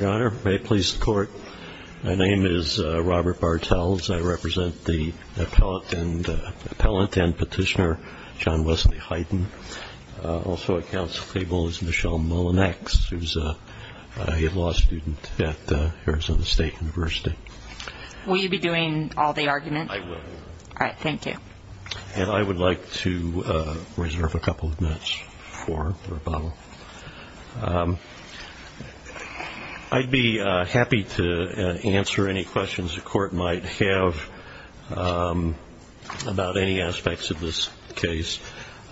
My name is Robert Bartels. I represent the appellant and petitioner John Wesley Heiden. Also at counsel table is Michelle Mullinex, who is a law student at Arizona State University. Will you be doing all the arguments? I will. All right, thank you. And I would like to reserve a couple of minutes for the rebuttal. I'd be happy to answer any questions the court might have about any aspects of this case,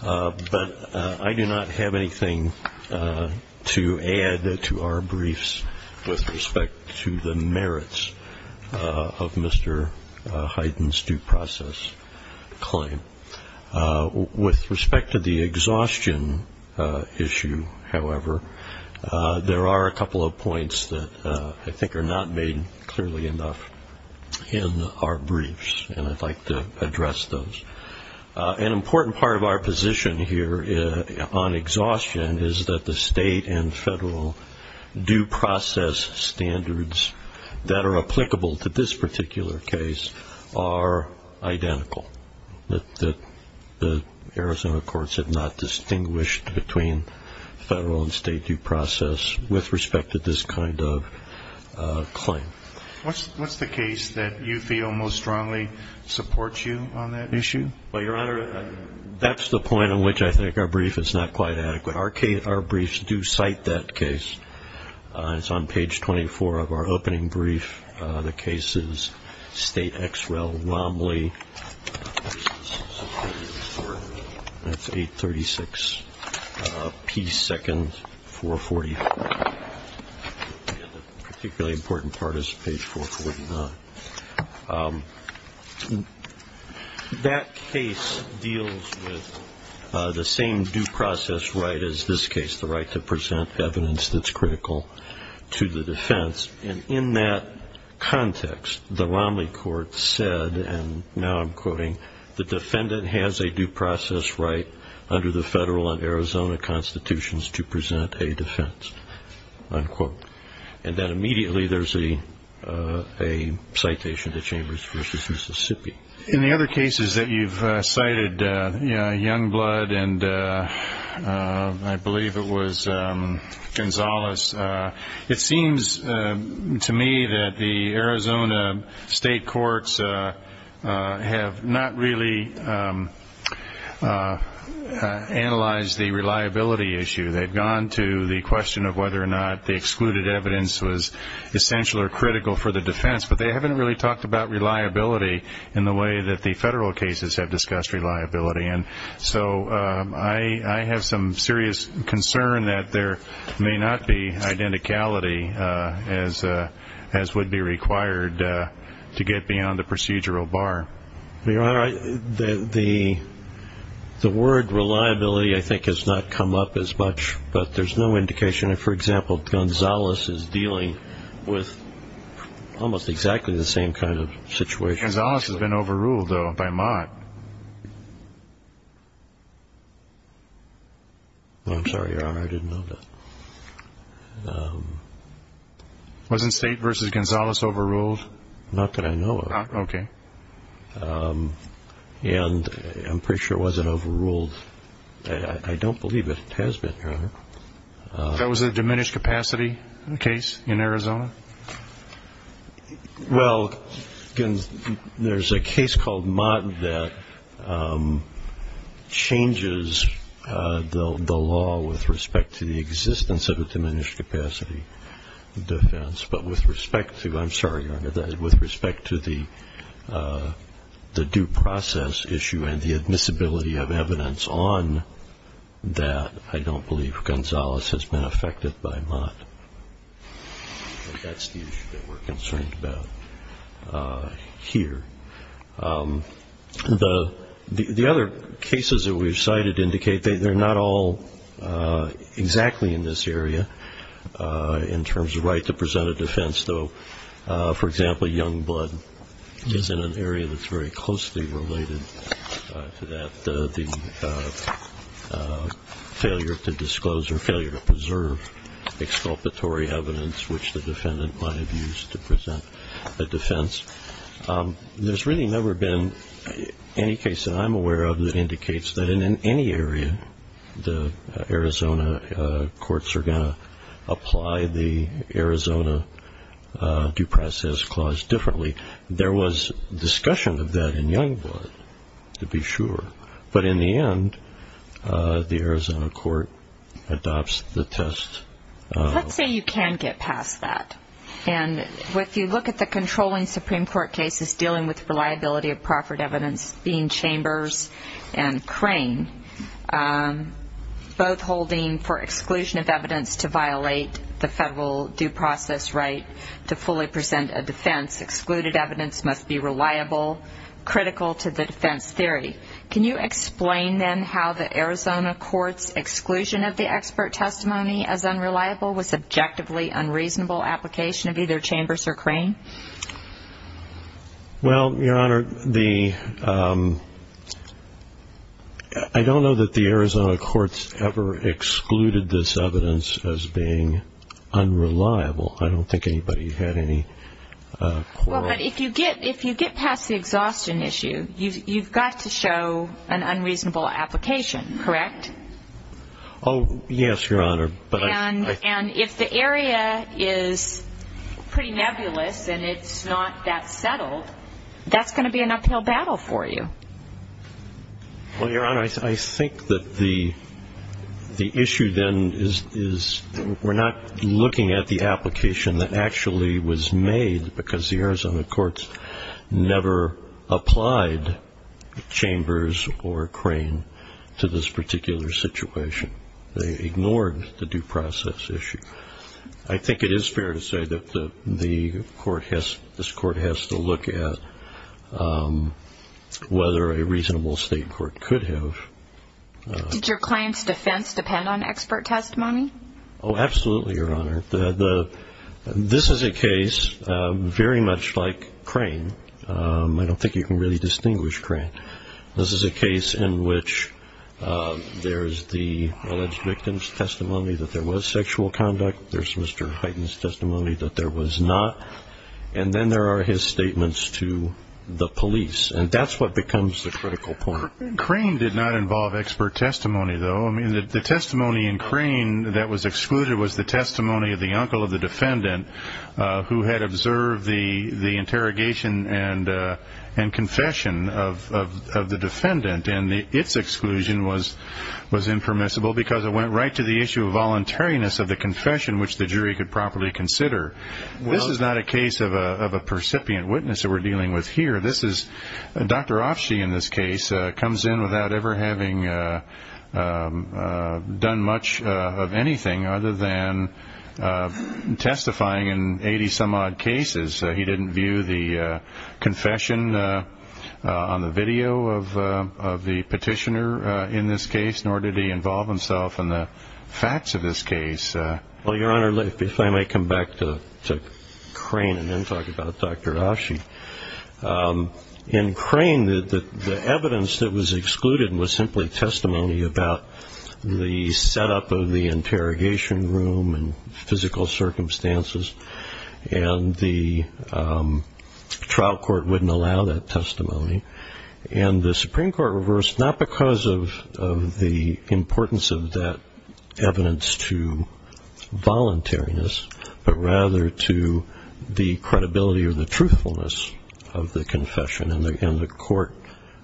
but I do not have anything to add to our briefs with respect to the merits of Mr. Heiden's due process claim. With respect to the exhaustion issue, however, there are a couple of points that I think are not made clearly enough in our briefs, and I'd like to address those. An important part of our position here on exhaustion is that the state and federal due process standards that are applicable to this particular case are identical. The Arizona courts have not distinguished between federal and state due process with respect to this kind of claim. What's the case that you feel most strongly supports you on that issue? Well, Your Honor, that's the point on which I think our brief is not quite adequate. Our briefs do cite that case. It's on page 24 of our opening brief. The case is State X. Rel. Romley. That's 836 P. 2nd, 440. The particularly important part is page 449. That case deals with the same due process right as this case, the right to present evidence that's critical to the defense. And in that context, the Romley court said, and now I'm quoting, the defendant has a due process right under the federal and Arizona constitutions to present a defense, unquote. And then immediately there's a citation to Chambers v. Mississippi. In the other cases that you've cited, Youngblood and I believe it was Gonzalez, it seems to me that the Arizona state courts have not really analyzed the reliability issue. They've gone to the question of whether or not the excluded evidence was essential or critical for the defense, but they haven't really talked about reliability in the way that the federal cases have discussed reliability. And so I have some serious concern that there may not be identicality as would be required to get beyond the procedural bar. Your Honor, the word reliability I think has not come up as much, but there's no indication. For example, Gonzalez is dealing with almost exactly the same kind of situation. Gonzalez has been overruled, though, by Mott. I'm sorry, Your Honor, I didn't know that. Was it State v. Gonzalez overruled? Not that I know of. Okay. And I'm pretty sure it wasn't overruled. I don't believe it has been, Your Honor. That was a diminished capacity case in Arizona? Well, there's a case called Mott that changes the law with respect to the existence of a diminished capacity defense, but with respect to the due process issue and the admissibility of evidence on that, I don't believe Gonzalez has been affected by Mott. That's the issue that we're concerned about here. The other cases that we've cited indicate they're not all exactly in this area in terms of right to present a defense, though, for example, Youngblood is in an area that's very closely related to that, the failure to disclose or failure to preserve exculpatory evidence which the defendant might have used to present a defense. There's really never been any case that I'm aware of that indicates that in any area, the Arizona courts are going to apply the Arizona due process clause differently. There was discussion of that in Youngblood, to be sure, but in the end, the Arizona court adopts the test. Let's say you can get past that, and if you look at the controlling Supreme Court cases dealing with reliability of proffered evidence, being Chambers and Crane, both holding for exclusion of evidence to violate the federal due process right to fully present a defense, excluded evidence must be reliable, critical to the defense theory. Can you explain, then, how the Arizona court's exclusion of the expert testimony as unreliable was subjectively unreasonable application of either Chambers or Crane? Well, Your Honor, I don't know that the Arizona courts ever excluded this evidence as being unreliable. I don't think anybody had any quarrel. Well, but if you get past the exhaustion issue, you've got to show an unreasonable application, correct? Oh, yes, Your Honor. And if the area is pretty nebulous and it's not that settled, that's going to be an uphill battle for you. Well, Your Honor, I think that the issue, then, is we're not looking at the application that actually was made because the Arizona courts never applied Chambers or Crane to this particular situation. They ignored the due process issue. I think it is fair to say that this court has to look at whether a reasonable state court could have. Did your client's defense depend on expert testimony? Oh, absolutely, Your Honor. This is a case very much like Crane. I don't think you can really distinguish Crane. This is a case in which there's the alleged victim's testimony that there was sexual conduct. There's Mr. Hyten's testimony that there was not. And then there are his statements to the police. And that's what becomes the critical point. Crane did not involve expert testimony, though. I mean, the testimony in Crane that was excluded was the testimony of the uncle of the defendant who had observed the interrogation and confession of the defendant. And its exclusion was impermissible because it went right to the issue of voluntariness of the confession, which the jury could properly consider. This is not a case of a percipient witness that we're dealing with here. Dr. Offshee, in this case, comes in without ever having done much of anything other than testifying in 80-some-odd cases. He didn't view the confession on the video of the petitioner in this case, nor did he involve himself in the facts of this case. Well, Your Honor, if I may come back to Crane and then talk about Dr. Offshee. In Crane, the evidence that was excluded was simply testimony about the setup of the interrogation room and physical circumstances, and the trial court wouldn't allow that testimony. And the Supreme Court reversed, not because of the importance of that evidence to voluntariness, but rather to the credibility or the truthfulness of the confession. And the court,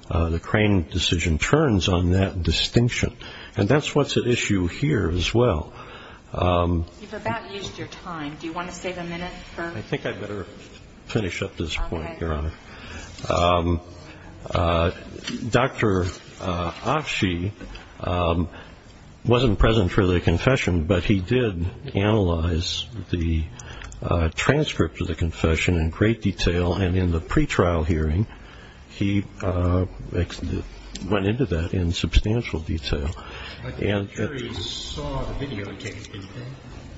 the Crane decision, turns on that distinction. And that's what's at issue here as well. You've about used your time. Do you want to save a minute for? I think I'd better finish up this point, Your Honor. Dr. Offshee wasn't present for the confession, but he did analyze the transcript of the confession in great detail. And in the pretrial hearing, he went into that in substantial detail. The jury saw the videotape, didn't they?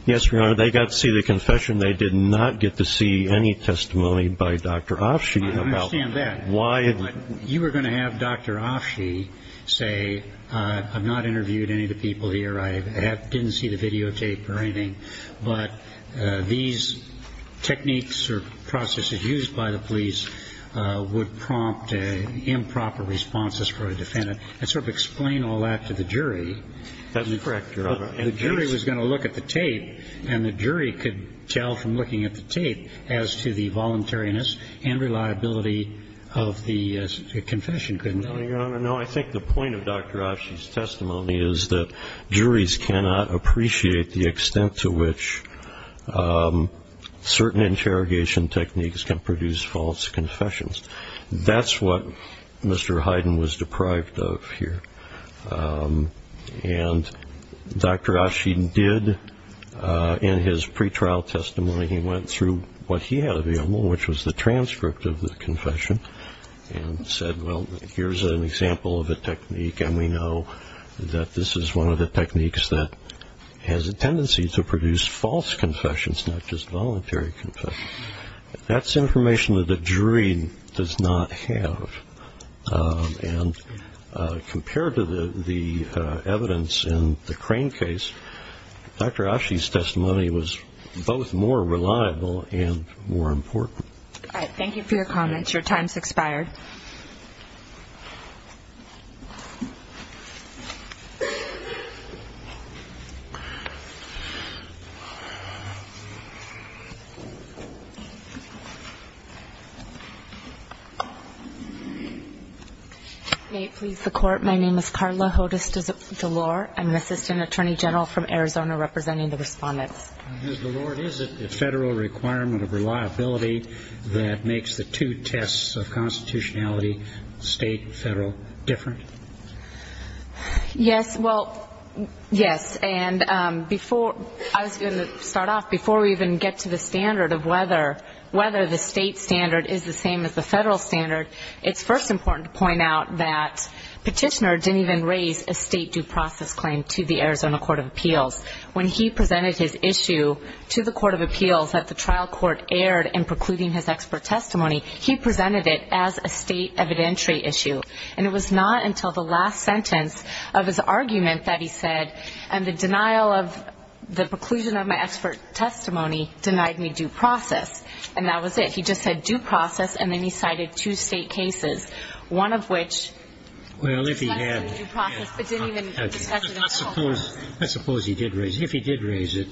Yes, Your Honor. They got to see the confession. They did not get to see any testimony by Dr. Offshee. I understand that. You were going to have Dr. Offshee say, I've not interviewed any of the people here, I didn't see the videotape or anything, but these techniques or processes used by the police would prompt improper responses for a defendant, and sort of explain all that to the jury. That's correct, Your Honor. The jury was going to look at the tape, and the jury could tell from looking at the tape as to the voluntariness and reliability of the confession, couldn't they? No, Your Honor, no. I think the point of Dr. Offshee's testimony is that juries cannot appreciate the extent to which certain interrogation techniques can produce false confessions. That's what Mr. Hyden was deprived of here. And Dr. Offshee did, in his pretrial testimony, he went through what he had available, which was the transcript of the confession, and said, well, here's an example of a technique, and we know that this is one of the techniques that has a tendency to produce false confessions, not just voluntary confessions. That's information that a jury does not have. And compared to the evidence in the Crane case, Dr. Offshee's testimony was both more reliable and more important. Thank you for your comments. Your time has expired. May it please the Court. My name is Carla Hodes DeLore. I'm an assistant attorney general from Arizona representing the respondents. Ms. DeLore, is it the federal requirement of reliability that makes the two tests of constitutionality, state and federal, different? Yes, well, yes. And before I was going to start off, before we even get to the standard of whether the state standard is the same as the federal standard, it's first important to point out that Petitioner didn't even raise a state due process claim to the Arizona Court of Appeals. When he presented his issue to the Court of Appeals that the trial court aired in precluding his expert testimony, he presented it as a state evidentiary issue. And it was not until the last sentence of his argument that he said, and the denial of the preclusion of my expert testimony denied me due process. And that was it. He just said due process and then he cited two state cases, one of which discussed the due process but didn't even discuss it in full. I suppose he did raise it. If he did raise it,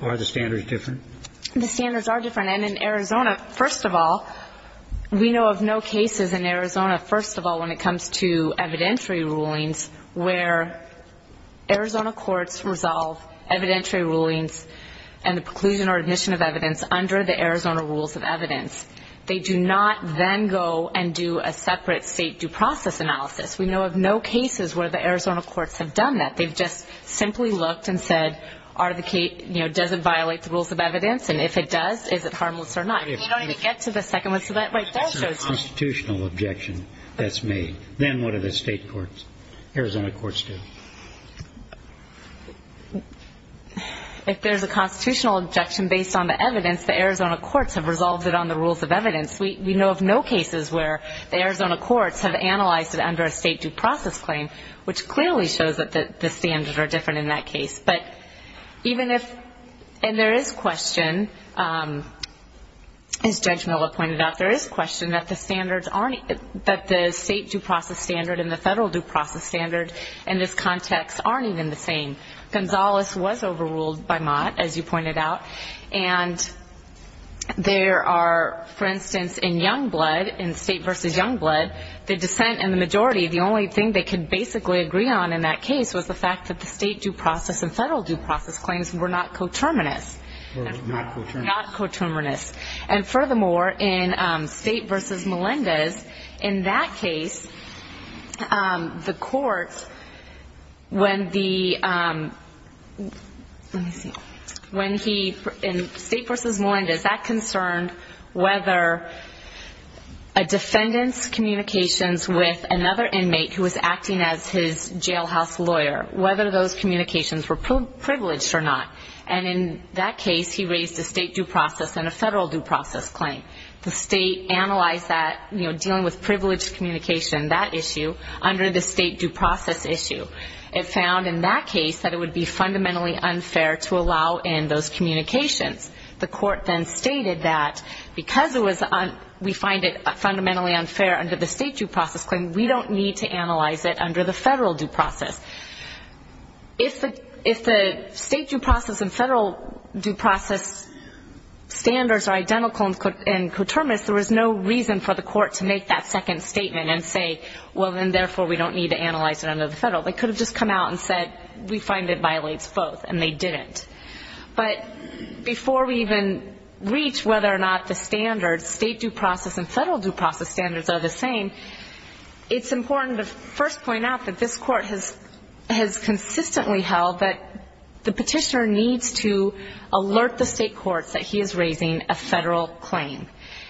are the standards different? The standards are different. And in Arizona, first of all, we know of no cases in Arizona, first of all, when it comes to evidentiary rulings where Arizona courts resolve evidentiary rulings and the preclusion or admission of evidence under the Arizona rules of evidence. They do not then go and do a separate state due process analysis. We know of no cases where the Arizona courts have done that. They've just simply looked and said, does it violate the rules of evidence? And if it does, is it harmless or not? You don't even get to the second one. That's a constitutional objection that's made. Then what do the state courts, Arizona courts do? If there's a constitutional objection based on the evidence, the Arizona courts have resolved it on the rules of evidence. We know of no cases where the Arizona courts have analyzed it under a state due process claim, which clearly shows that the standards are different in that case. And there is question, as Judge Miller pointed out, there is question that the state due process standard and the federal due process standard in this context aren't even the same. Gonzales was overruled by Mott, as you pointed out. And there are, for instance, in Youngblood, in state versus Youngblood, the dissent in the majority, the only thing they could basically agree on in that case was the fact that the state due process and federal due process claims were not coterminous. Not coterminous. And furthermore, in state versus Melendez, in that case, the courts, when the, let me see, when he, in state versus Melendez, that concerned whether a defendant's communications with another inmate who was acting as his jailhouse lawyer, whether those communications were privileged or not. And in that case, he raised a state due process and a federal due process claim. The state analyzed that, you know, dealing with privileged communication, that issue, under the state due process issue. It found in that case that it would be fundamentally unfair to allow in those communications. The court then stated that because it was, we find it fundamentally unfair under the state due process claim, we don't need to analyze it under the federal due process. If the state due process and federal due process standards are identical and coterminous, there was no reason for the court to make that second statement and say, well, then, therefore, we don't need to analyze it under the federal. They could have just come out and said, we find it violates both, and they didn't. But before we even reach whether or not the standards, state due process and federal due process standards are the same, it's important to first point out that this court has consistently held that the petitioner needs to alert the state courts that he is raising a federal claim.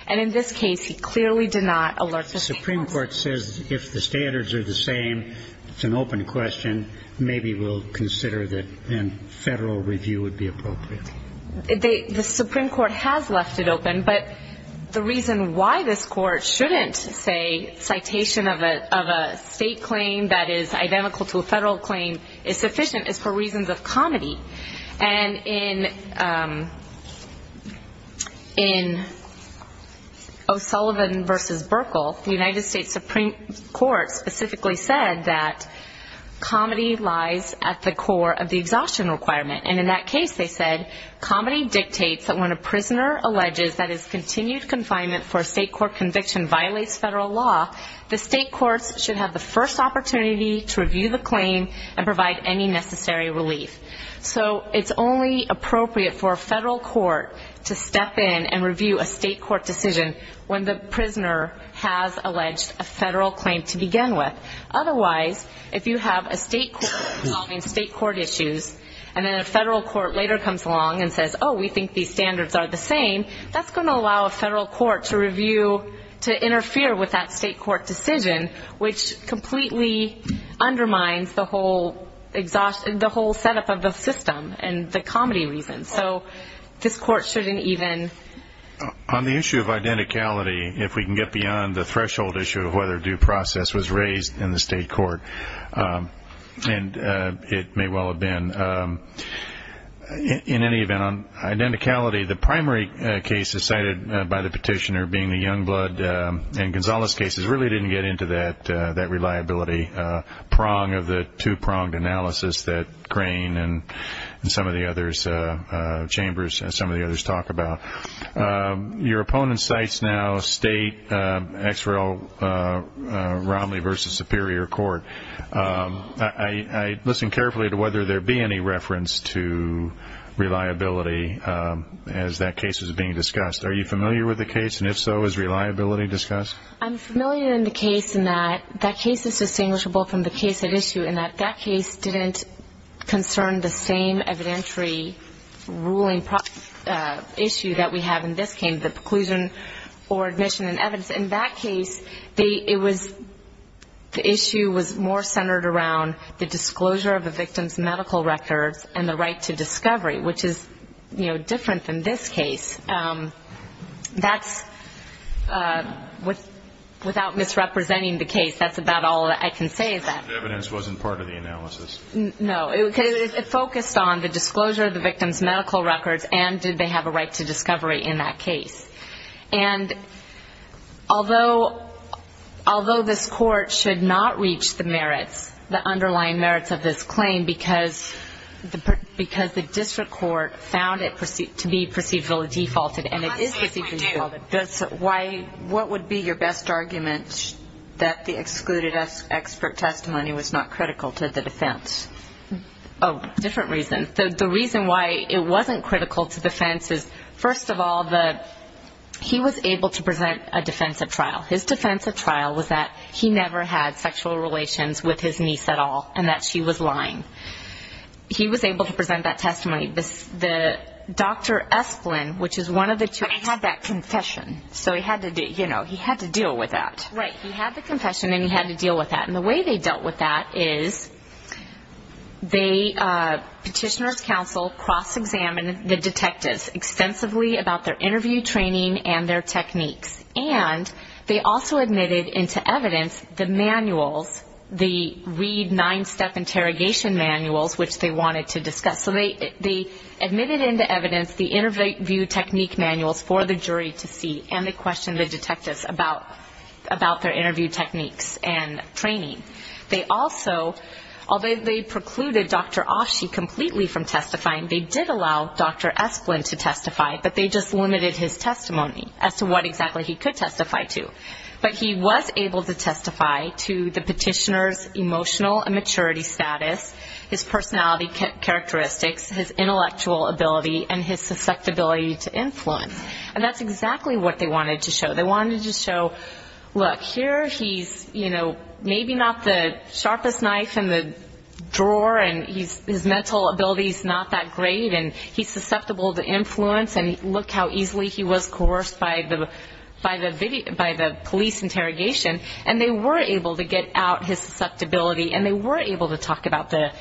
And in this case, he clearly did not alert the state courts. The Supreme Court says if the standards are the same, it's an open question, and maybe we'll consider that a federal review would be appropriate. The Supreme Court has left it open, but the reason why this court shouldn't say citation of a state claim that is identical to a federal claim is sufficient is for reasons of comity. And in O'Sullivan v. Burkle, the United States Supreme Court specifically said that comity lies at the core of the exhaustion requirement. And in that case, they said, comity dictates that when a prisoner alleges that his continued confinement for a state court conviction violates federal law, the state courts should have the first opportunity to review the claim and provide any necessary relief. So it's only appropriate for a federal court to step in and review a state court decision when the prisoner has alleged a federal claim to begin with. Otherwise, if you have a state court solving state court issues, and then a federal court later comes along and says, oh, we think these standards are the same, that's going to allow a federal court to review, to interfere with that state court decision, which completely undermines the whole setup of the system and the comity reason. So this court shouldn't even. On the issue of identicality, if we can get beyond the threshold issue of whether due process was raised in the state court, and it may well have been, in any event, on identicality, the primary cases cited by the petitioner being the Youngblood and Gonzales cases really didn't get into that reliability prong of the two-pronged analysis that Crane and some of the other chambers and some of the others talk about. Your opponent cites now state XREL Romney v. Superior Court. I listen carefully to whether there be any reference to reliability as that case is being discussed. Are you familiar with the case, and if so, is reliability discussed? I'm familiar in the case in that that case is distinguishable from the case at issue in that that case didn't concern the same evidentiary ruling issue that we have in this case, the preclusion for admission and evidence. In that case, the issue was more centered around the disclosure of the victim's medical records and the right to discovery, which is, you know, different than this case. That's, without misrepresenting the case, that's about all I can say. The evidence wasn't part of the analysis. No. It focused on the disclosure of the victim's medical records and did they have a right to discovery in that case. And although this Court should not reach the merits, the underlying merits of this claim, because the district court found it to be perceivably defaulted, and it is perceivably defaulted. What would be your best argument that the excluded expert testimony was not critical to the defense? Oh, different reason. The reason why it wasn't critical to defense is, first of all, that he was able to present a defensive trial. His defensive trial was that he never had sexual relations with his niece at all and that she was lying. He was able to present that testimony. The Dr. Esplin, which is one of the two. But he had that confession. So he had to deal with that. Right. He had the confession and he had to deal with that. And the way they dealt with that is they, Petitioner's Counsel, cross-examined the detectives extensively about their interview training and their techniques. And they also admitted into evidence the manuals, the Reid nine-step interrogation manuals, which they wanted to discuss. So they admitted into evidence the interview technique manuals for the jury to see and they questioned the detectives about their interview techniques and training. They also, although they precluded Dr. Oshie completely from testifying, they did allow Dr. Esplin to testify, but they just limited his testimony as to what exactly he could testify to. But he was able to testify to the Petitioner's emotional immaturity status, his personality characteristics, his intellectual ability, and his susceptibility to influence. And that's exactly what they wanted to show. They wanted to show, look, here he's, you know, maybe not the sharpest knife in the drawer and his mental ability is not that great and he's susceptible to influence and look how easily he was coerced by the police interrogation. And they were able to get out his susceptibility and they were able to talk about the,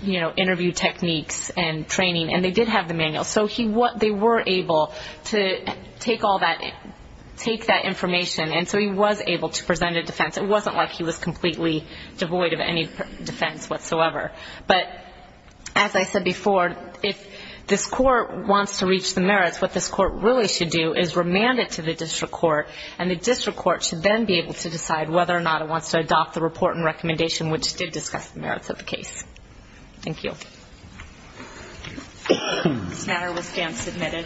you know, interview techniques and training and they did have the manuals. So they were able to take all that, take that information. And so he was able to present a defense. It wasn't like he was completely devoid of any defense whatsoever. But as I said before, if this court wants to reach the merits, what this court really should do is remand it to the district court and the district court should then be able to decide whether or not it wants to adopt the report and recommendation which did discuss the merits of the case. Thank you. This matter was stamp submitted.